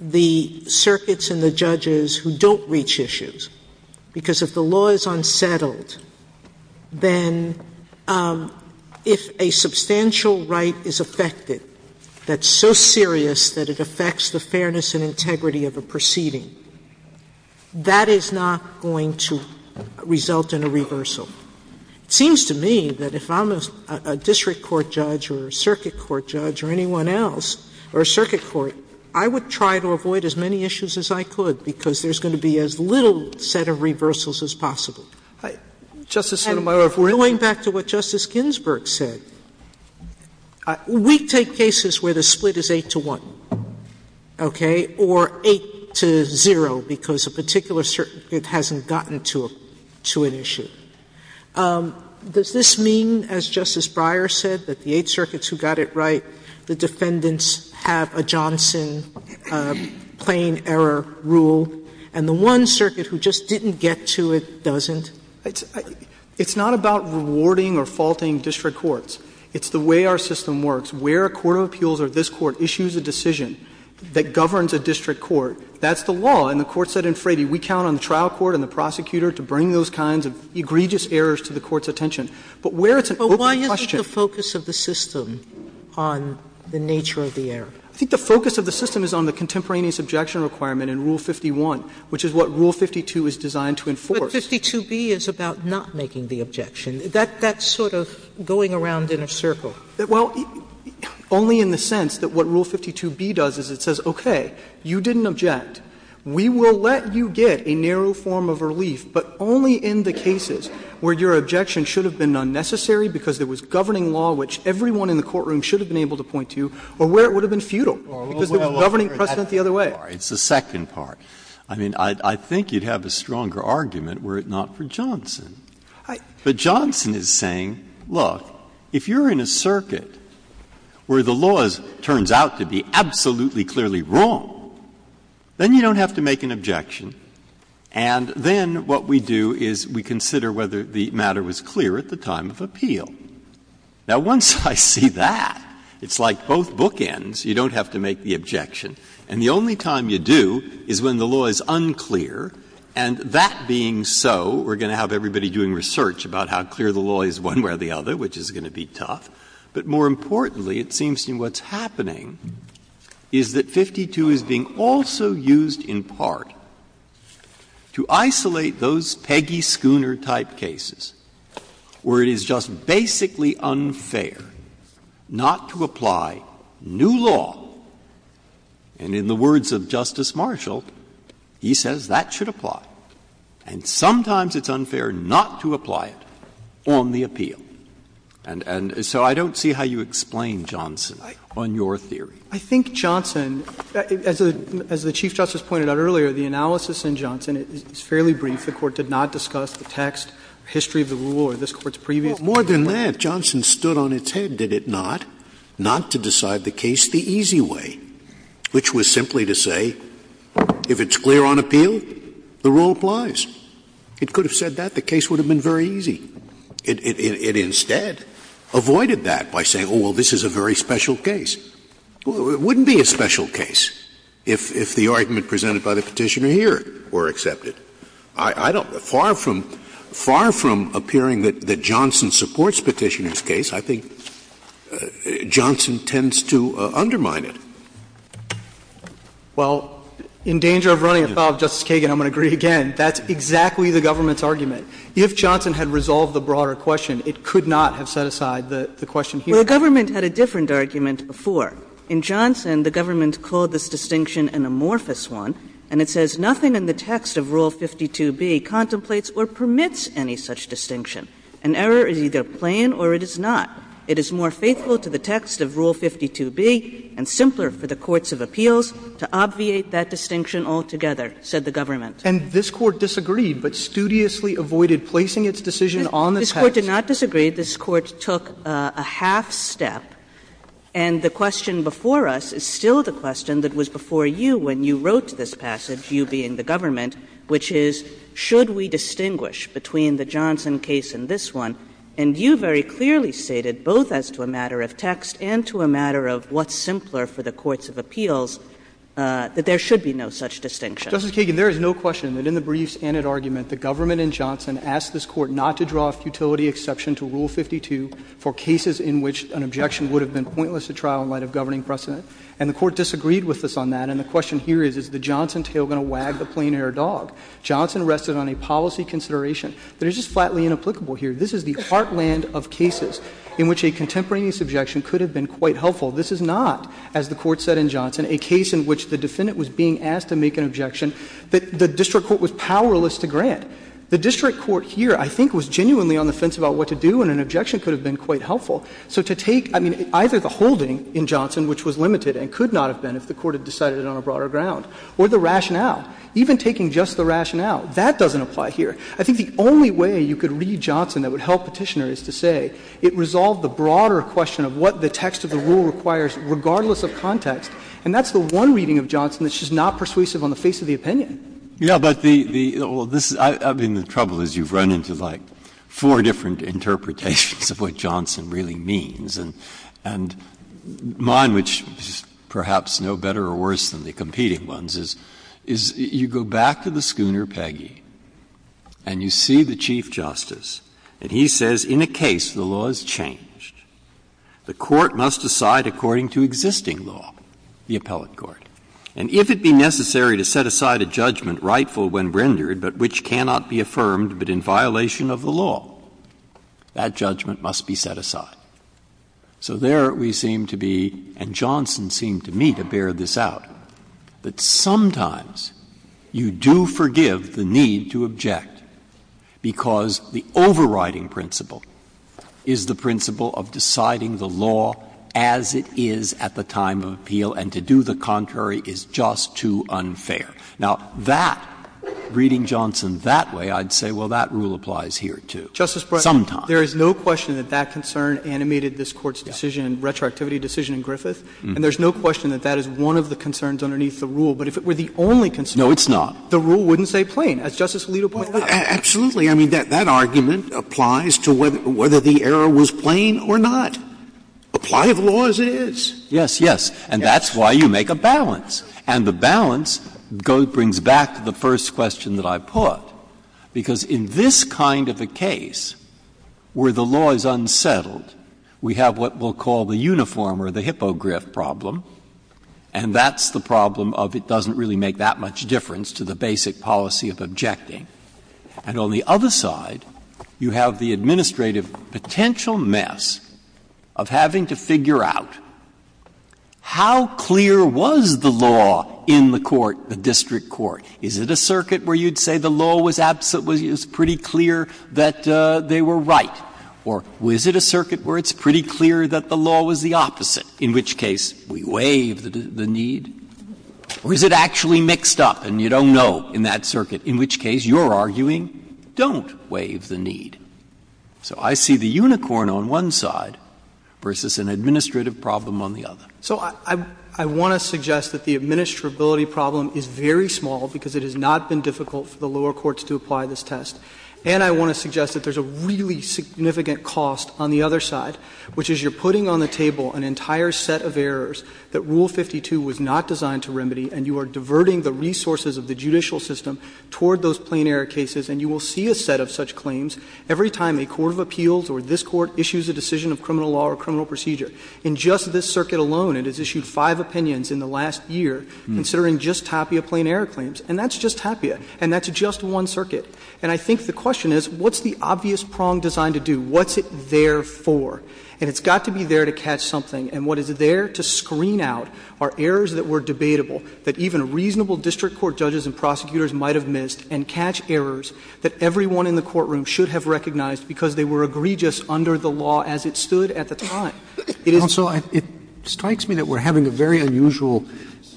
the circuits and the judges who don't reach issues, because if the law is unsettled, then if a substantial right is affected that's so serious that it affects the fairness and integrity of a proceeding, that is not going to result in a reversal. It seems to me that if I'm a district court judge or a circuit court judge or anyone else, or a circuit court, I would try to avoid as many issues as I could because there's going to be as little set of reversals as possible. And going back to what Justice Ginsburg said, we take cases where the split is 8 to 1, okay, or 8 to 0 because a particular circuit hasn't gotten to an issue. Does this mean, as Justice Breyer said, that the eight circuits who got it right, the defendants have a Johnson plain error rule, and the one circuit who just didn't get to it doesn't? It's not about rewarding or faulting district courts. It's the way our system works. Where a court of appeals or this court issues a decision that governs a district court, that's the law. And the Court said in Frady, we count on the trial court and the prosecutor to bring those kinds of egregious errors to the court's attention. But where it's an open question. Sotomayor, but why isn't the focus of the system on the nature of the error? I think the focus of the system is on the contemporaneous objection requirement in Rule 51, which is what Rule 52 is designed to enforce. But 52B is about not making the objection. That's sort of going around in a circle. Well, only in the sense that what Rule 52B does is it says, okay, you didn't object. We will let you get a narrow form of relief, but only in the cases where your objection should have been unnecessary because there was governing law which everyone in the courtroom should have been able to point to, or where it would have been futile, because there was governing precedent the other way. Breyer, it's the second part. I mean, I think you'd have a stronger argument were it not for Johnson. But Johnson is saying, look, if you're in a circuit where the law turns out to be absolutely clearly wrong, then you don't have to make an objection, and then what we do is we consider whether the matter was clear at the time of appeal. Now, once I see that, it's like both bookends. You don't have to make the objection. And the only time you do is when the law is unclear, and that being so, we're going to have everybody doing research about how clear the law is one way or the other, which is going to be tough. But more importantly, it seems to me what's happening is that 52 is being also used in part to isolate those Peggy Schooner-type cases, where it is just basically unfair not to apply new law. And in the words of Justice Marshall, he says that should apply. And sometimes it's unfair not to apply it on the appeal. And so I don't see how you explain Johnson on your theory. I think Johnson, as the Chief Justice pointed out earlier, the analysis in Johnson is fairly brief. The Court did not discuss the text, history of the rule, or this Court's previous case. More than that, Johnson stood on its head, did it not, not to decide the case the easy way, which was simply to say if it's clear on appeal, the rule applies. It could have said that. The case would have been very easy. It instead avoided that by saying, oh, well, this is a very special case. It wouldn't be a special case if the argument presented by the Petitioner here were accepted. I don't — far from — far from appearing that Johnson supports Petitioner's case, I think Johnson tends to undermine it. Well, in danger of running afoul of Justice Kagan, I'm going to agree again. That's exactly the government's argument. If Johnson had resolved the broader question, it could not have set aside the question here. Well, the government had a different argument before. In Johnson, the government called this distinction an amorphous one, and it says nothing in the text of Rule 52b contemplates or permits any such distinction. An error is either plain or it is not. It is more faithful to the text of Rule 52b and simpler for the courts of appeals to obviate that distinction altogether, said the government. And this Court disagreed, but studiously avoided placing its decision on the text. This Court did not disagree. This Court took a half-step, and the question before us is still the question that was before you when you wrote this passage, you being the government, which is, should we distinguish between the Johnson case and this one? And you very clearly stated, both as to a matter of text and to a matter of what's simpler for the courts of appeals, that there should be no such distinction. Justice Kagan, there is no question that in the briefs and at argument, the government in Johnson asked this Court not to draw a futility exception to Rule 52 for cases in which an objection would have been pointless at trial in light of governing precedent. And the Court disagreed with us on that. And the question here is, is the Johnson tale going to wag the plain-haired dog? Johnson rested on a policy consideration that is just flatly inapplicable here. This is the heartland of cases in which a contemporaneous objection could have been quite helpful. This is not, as the Court said in Johnson, a case in which the defendant was being asked to make an objection that the district court was powerless to grant. The district court here, I think, was genuinely on the fence about what to do, and an objection could have been quite helpful. So to take, I mean, either the holding in Johnson, which was limited and could not have been if the Court had decided it on a broader ground, or the rationale, even taking just the rationale, that doesn't apply here. I think the only way you could read Johnson that would help Petitioner is to say it resolved the broader question of what the text of the rule requires regardless of context, and that's the one reading of Johnson that's just not persuasive on the face of the opinion. Breyer. Yeah, but the — well, this is — I mean, the trouble is you've run into, like, four different interpretations of what Johnson really means, and mine, which is perhaps no better or worse than the competing ones, is you go back to the schooner, Peggy, and you see the Chief Justice, and he says, in a case the law has changed. The court must decide according to existing law, the appellate court. And if it be necessary to set aside a judgment rightful when rendered, but which cannot be affirmed but in violation of the law, that judgment must be set aside. So there we seem to be, and Johnson seemed to me to bear this out, that sometimes you do forgive the need to object because the overriding principle is the principle of deciding the law as it is at the time of appeal, and to do the contrary is just too unfair. Now, that, reading Johnson that way, I'd say, well, that rule applies here, too. Sometimes. There is no question that that concern animated this Court's decision, retroactivity decision in Griffith. And there's no question that that is one of the concerns underneath the rule. But if it were the only concern. No, it's not. The rule wouldn't stay plain. As Justice Alito pointed out. Absolutely. I mean, that argument applies to whether the error was plain or not. Apply the law as it is. Yes, yes. And that's why you make a balance. And the balance brings back the first question that I put, because in this kind of a case where the law is unsettled, we have what we'll call the uniform or the hippogriff problem, and that's the problem of it doesn't really make that much difference to the basic policy of objecting. And on the other side, you have the administrative potential mess of having to figure out how clear was the law in the court, the district court. Is it a circuit where you'd say the law was pretty clear that they were right? Or is it a circuit where it's pretty clear that the law was the opposite, in which case we waive the need? Or is it actually mixed up and you don't know in that circuit, in which case you're arguing, don't waive the need? So I see the unicorn on one side versus an administrative problem on the other. So I want to suggest that the administrability problem is very small, because it has not been difficult for the lower courts to apply this test. And I want to suggest that there's a really significant cost on the other side, which is you're putting on the table an entire set of errors that Rule 52 was not designed to remedy, and you are diverting the resources of the judicial system toward those plain error cases. And you will see a set of such claims every time a court of appeals or this court issues a decision of criminal law or criminal procedure. In just this circuit alone, it has issued five opinions in the last year, considering just Tapia plain error claims. And that's just Tapia. And that's just one circuit. And I think the question is, what's the obvious prong designed to do? What's it there for? And it's got to be there to catch something. And what is there to screen out are errors that were debatable, that even reasonable district court judges and prosecutors might have missed, and catch errors that everyone in the courtroom should have recognized because they were egregious under the law as it stood at the time. Roberts Also, it strikes me that we're having a very unusual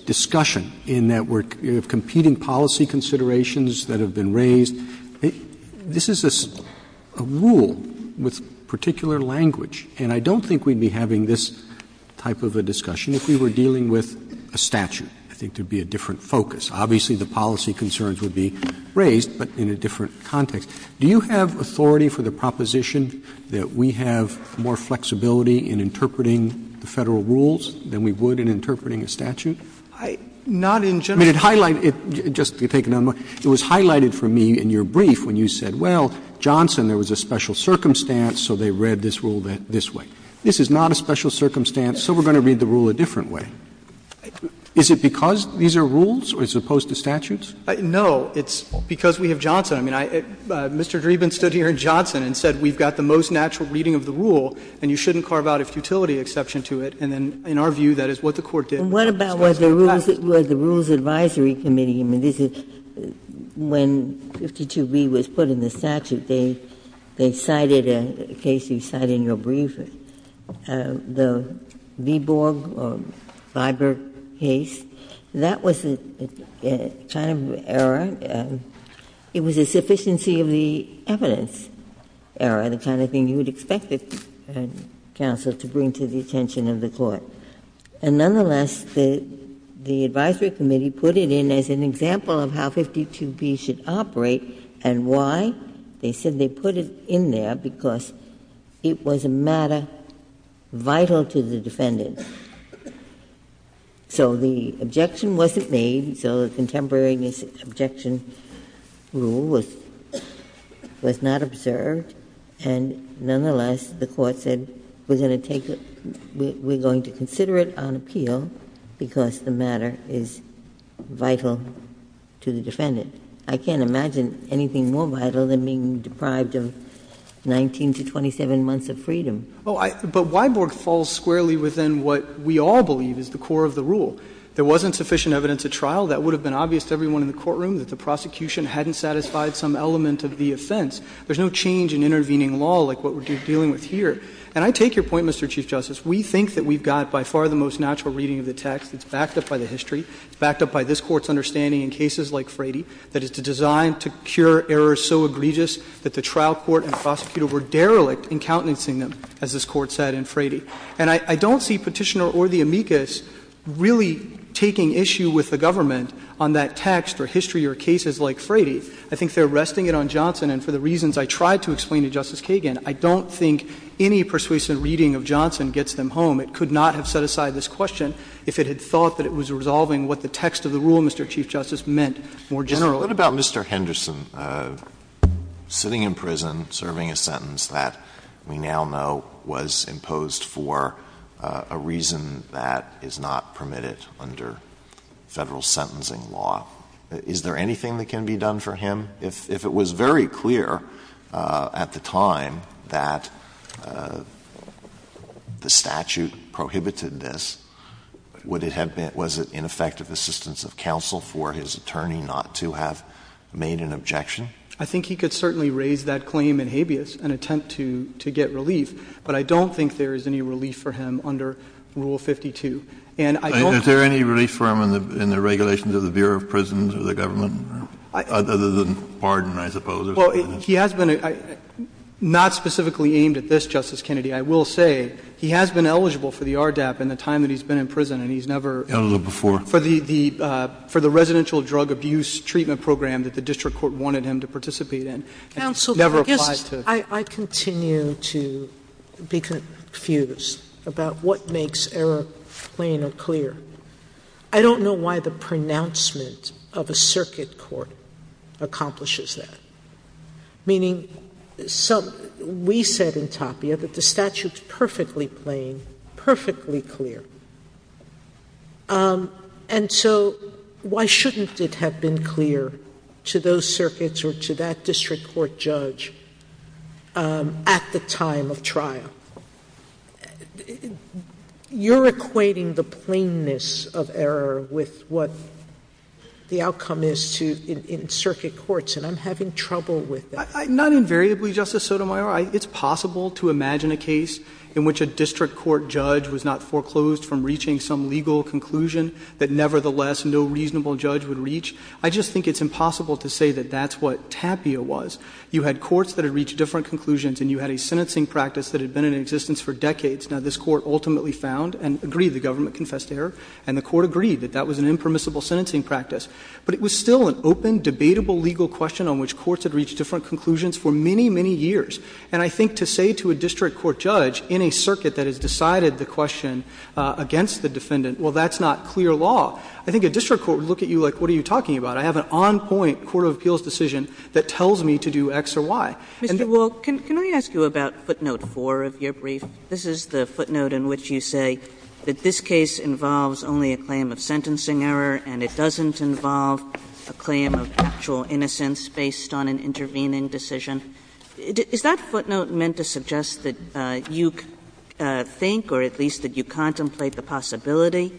discussion in that we're competing policy considerations that have been raised. This is a rule with particular language, and I don't think we'd be having this type of a discussion if we were dealing with a statute. I think there would be a different focus. Obviously, the policy concerns would be raised, but in a different context. Do you have authority for the proposition that we have more flexibility in interpreting the Federal rules than we would in interpreting a statute? I mean, it highlighted, just to take another moment, it was highlighted for me in your brief when you said, well, Johnson, there was a special circumstance, so they read this rule this way. This is not a special circumstance, so we're going to read the rule a different way. Is it because these are rules as opposed to statutes? No. It's because we have Johnson. I mean, Mr. Dreeben stood here in Johnson and said we've got the most natural reading of the rule, and you shouldn't carve out a futility exception to it, and then, in our view, that is what the Court did. And it's not discussed in the past. Ginsburg What about with the Rules Advisory Committee? I mean, this is when 52b was put in the statute, they cited a case you cite in your brief, the Viborg or Viberg case. That was a kind of error. It was a sufficiency of the evidence error, the kind of thing you would expect a counsel to bring to the attention of the Court. And nonetheless, the Advisory Committee put it in as an example of how 52b should operate, and why? They said they put it in there because it was a matter vital to the defendant. So the objection wasn't made, so the contemporary objection rule was not observed. And nonetheless, the Court said we're going to take it, we're going to consider it on appeal because the matter is vital to the defendant. I can't imagine anything more vital than being deprived of 19 to 27 months of freedom. But Viborg falls squarely within what we all believe is the core of the rule. There wasn't sufficient evidence at trial. That would have been obvious to everyone in the courtroom, that the prosecution hadn't satisfied some element of the offense. There's no change in intervening law like what we're dealing with here. And I take your point, Mr. Chief Justice. We think that we've got by far the most natural reading of the text. It's backed up by the history. It's backed up by this Court's understanding in cases like Frady that it's designed to cure errors so egregious that the trial court and the prosecutor were derelict in countenancing them, as this Court said in Frady. And I don't see Petitioner or the amicus really taking issue with the government on that text or history or cases like Frady. I think they're resting it on Johnson. And for the reasons I tried to explain to Justice Kagan, I don't think any persuasive reading of Johnson gets them home. It could not have set aside this question if it had thought that it was resolving what the text of the rule, Mr. Chief Justice, meant more generally. Alito, what about Mr. Henderson? Sitting in prison, serving a sentence that we now know was imposed for a reason that is not permitted under Federal sentencing law. Is there anything that can be done for him? If it was very clear at the time that the statute prohibited this, would it have assistance of counsel for his attorney not to have made an objection? I think he could certainly raise that claim in habeas and attempt to get relief. But I don't think there is any relief for him under Rule 52. And I don't think that's the case. Is there any relief for him in the regulations of the Bureau of Prisons or the government other than pardon, I suppose? Well, he has been not specifically aimed at this, Justice Kennedy. I will say he has been eligible for the RDAP in the time that he's been in prison and he's never for the residential drug abuse treatment program that the district court wanted him to participate in. Counsel, I guess I continue to be confused about what makes error plain or clear. I don't know why the pronouncement of a circuit court accomplishes that. Meaning we said in Tapia that the statute is perfectly plain, perfectly clear. And so why shouldn't it have been clear to those circuits or to that district court judge at the time of trial? You're equating the plainness of error with what the outcome is in circuit courts. And I'm having trouble with that. Not invariably, Justice Sotomayor. It's possible to imagine a case in which a district court judge was not foreclosed from reaching some legal conclusion that nevertheless no reasonable judge would reach. I just think it's impossible to say that that's what Tapia was. You had courts that had reached different conclusions and you had a sentencing practice that had been in existence for decades. Now, this Court ultimately found and agreed, the government confessed error, and the Court agreed that that was an impermissible sentencing practice. But it was still an open, debatable legal question on which courts had reached different conclusions for many, many years. And I think to say to a district court judge in a circuit that has decided the question against the defendant, well, that's not clear law, I think a district court would look at you like, what are you talking about? I have an on-point court of appeals decision that tells me to do X or Y. Kagan. Mr. Wall, can I ask you about footnote 4 of your brief? This is the footnote in which you say that this case involves only a claim of sentencing error and it doesn't involve a claim of actual innocence based on an intervening decision. Is that footnote meant to suggest that you think, or at least that you contemplate the possibility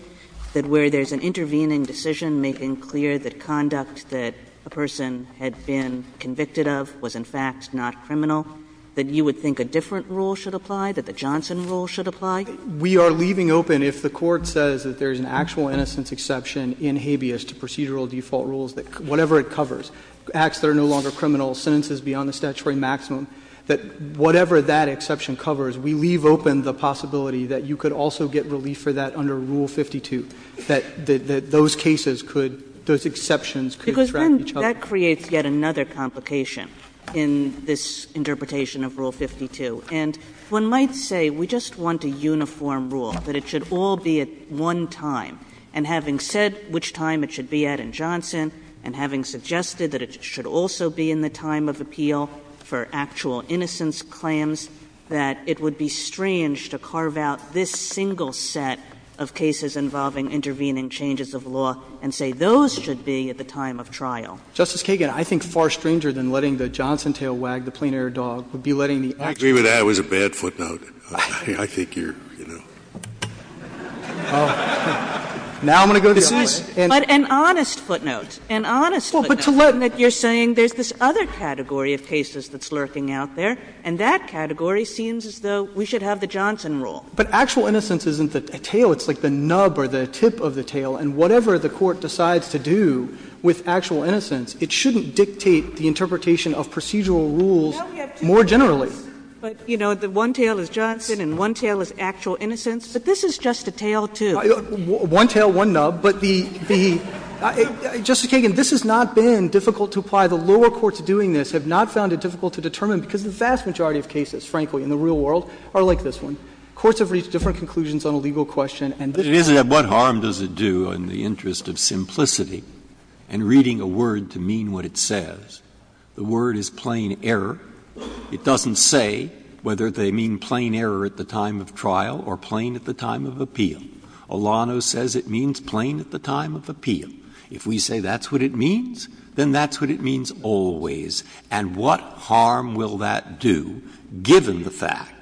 that where there's an intervening decision making clear that conduct that a person had been convicted of was, in fact, not criminal, that you would think a different rule should apply, that the Johnson rule should apply? Wall, we are leaving open, if the Court says that there's an actual innocence exception in habeas to procedural default rules, that whatever it covers, acts that are no longer criminal, sentences beyond the statutory maximum, that whatever that exception covers, we leave open the possibility that you could also get relief for that under Rule 52, that those cases could, those exceptions could distract each other. Kagan. Because then that creates yet another complication in this interpretation of Rule 52. And one might say we just want a uniform rule, that it should all be at one time. And having said which time it should be at in Johnson, and having suggested that it should also be in the time of appeal for actual innocence claims, that it would be strange to carve out this single set of cases involving intervening changes of law and say those should be at the time of trial. Justice Kagan, I think far stranger than letting the Johnson tail wag the plean I think that was a bad footnote. I think you're, you know. Now I'm going to go to you, Ellen. But an honest footnote, an honest footnote. Well, but to let. You're saying there's this other category of cases that's lurking out there, and that category seems as though we should have the Johnson rule. But actual innocence isn't the tail. It's like the nub or the tip of the tail. And whatever the Court decides to do with actual innocence, it shouldn't dictate the interpretation of procedural rules more generally. But, you know, the one tail is Johnson and one tail is actual innocence. But this is just a tail, too. One tail, one nub. But the — Justice Kagan, this has not been difficult to apply. The lower courts doing this have not found it difficult to determine because the vast majority of cases, frankly, in the real world are like this one. Courts have reached different conclusions on a legal question, and this does not. But what harm does it do in the interest of simplicity and reading a word to mean what it says? The word is plain error. It doesn't say whether they mean plain error at the time of trial or plain at the time of appeal. Olano says it means plain at the time of appeal. If we say that's what it means, then that's what it means always. And what harm will that do, given the fact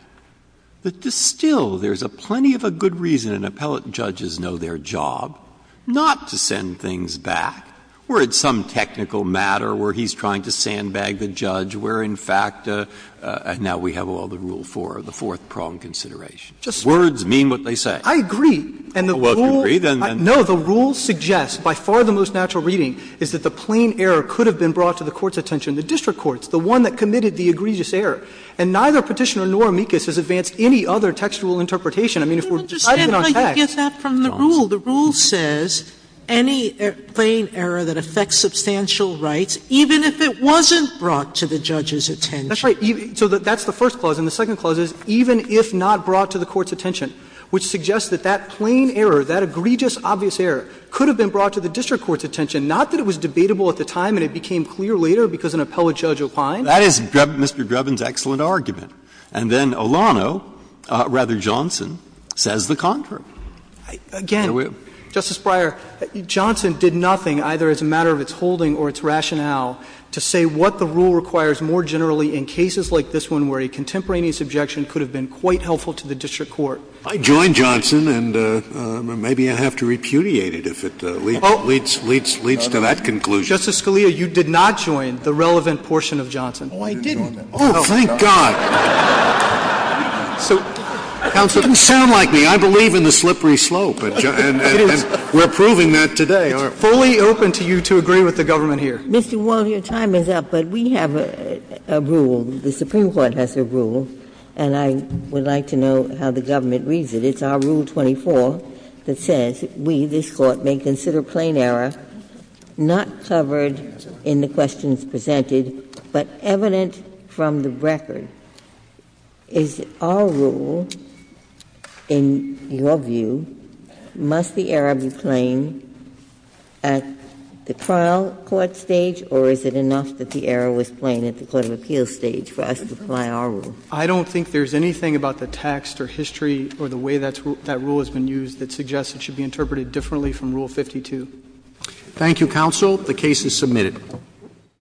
that still there's plenty of a good reason and appellate judges know their job not to send things back, where it's some technical matter where he's trying to sandbag the judge, where, in fact, now we have all the rule 4, the fourth prong consideration. Words mean what they say. I agree. And the rules suggest, by far the most natural reading, is that the plain error could have been brought to the Court's attention, the district courts, the one that committed the egregious error. And neither Petitioner nor Mikus has advanced any other textual interpretation. I mean, if we're writing it on text. Sotomayor, I don't understand how you get that from the rule. The rule says any plain error that affects substantial rights, even if it wasn't brought to the judge's attention. That's right. So that's the first clause. And the second clause is, even if not brought to the Court's attention, which suggests that that plain error, that egregious, obvious error, could have been brought to the district court's attention. Not that it was debatable at the time and it became clear later because an appellate judge opined. That is Mr. Dreben's excellent argument. And then Olano, rather Johnson, says the contrary. Again, Justice Breyer, Johnson did nothing, either as a matter of its holding or its rationale, to say what the rule requires more generally in cases like this one where a contemporaneous objection could have been quite helpful to the district court. I joined Johnson, and maybe I have to repudiate it if it leads to that conclusion. Justice Scalia, you did not join the relevant portion of Johnson. Oh, I didn't. Oh, thank God. So, counsel, you sound like me. I believe in the slippery slope. It is. And we're proving that today. It's fully open to you to agree with the government here. Mr. Wall, your time is up, but we have a rule, the Supreme Court has a rule, and I would like to know how the government reads it. It's our Rule 24 that says, we, this Court, may consider plain error not covered in the questions presented, but evident from the record. Is our rule, in your view, must the error be plain at the trial court stage, or is it enough that the error was plain at the court of appeals stage for us to apply our rule? I don't think there's anything about the text or history or the way that rule has been used that suggests it should be interpreted differently from Rule 52. Thank you, counsel. The case is submitted.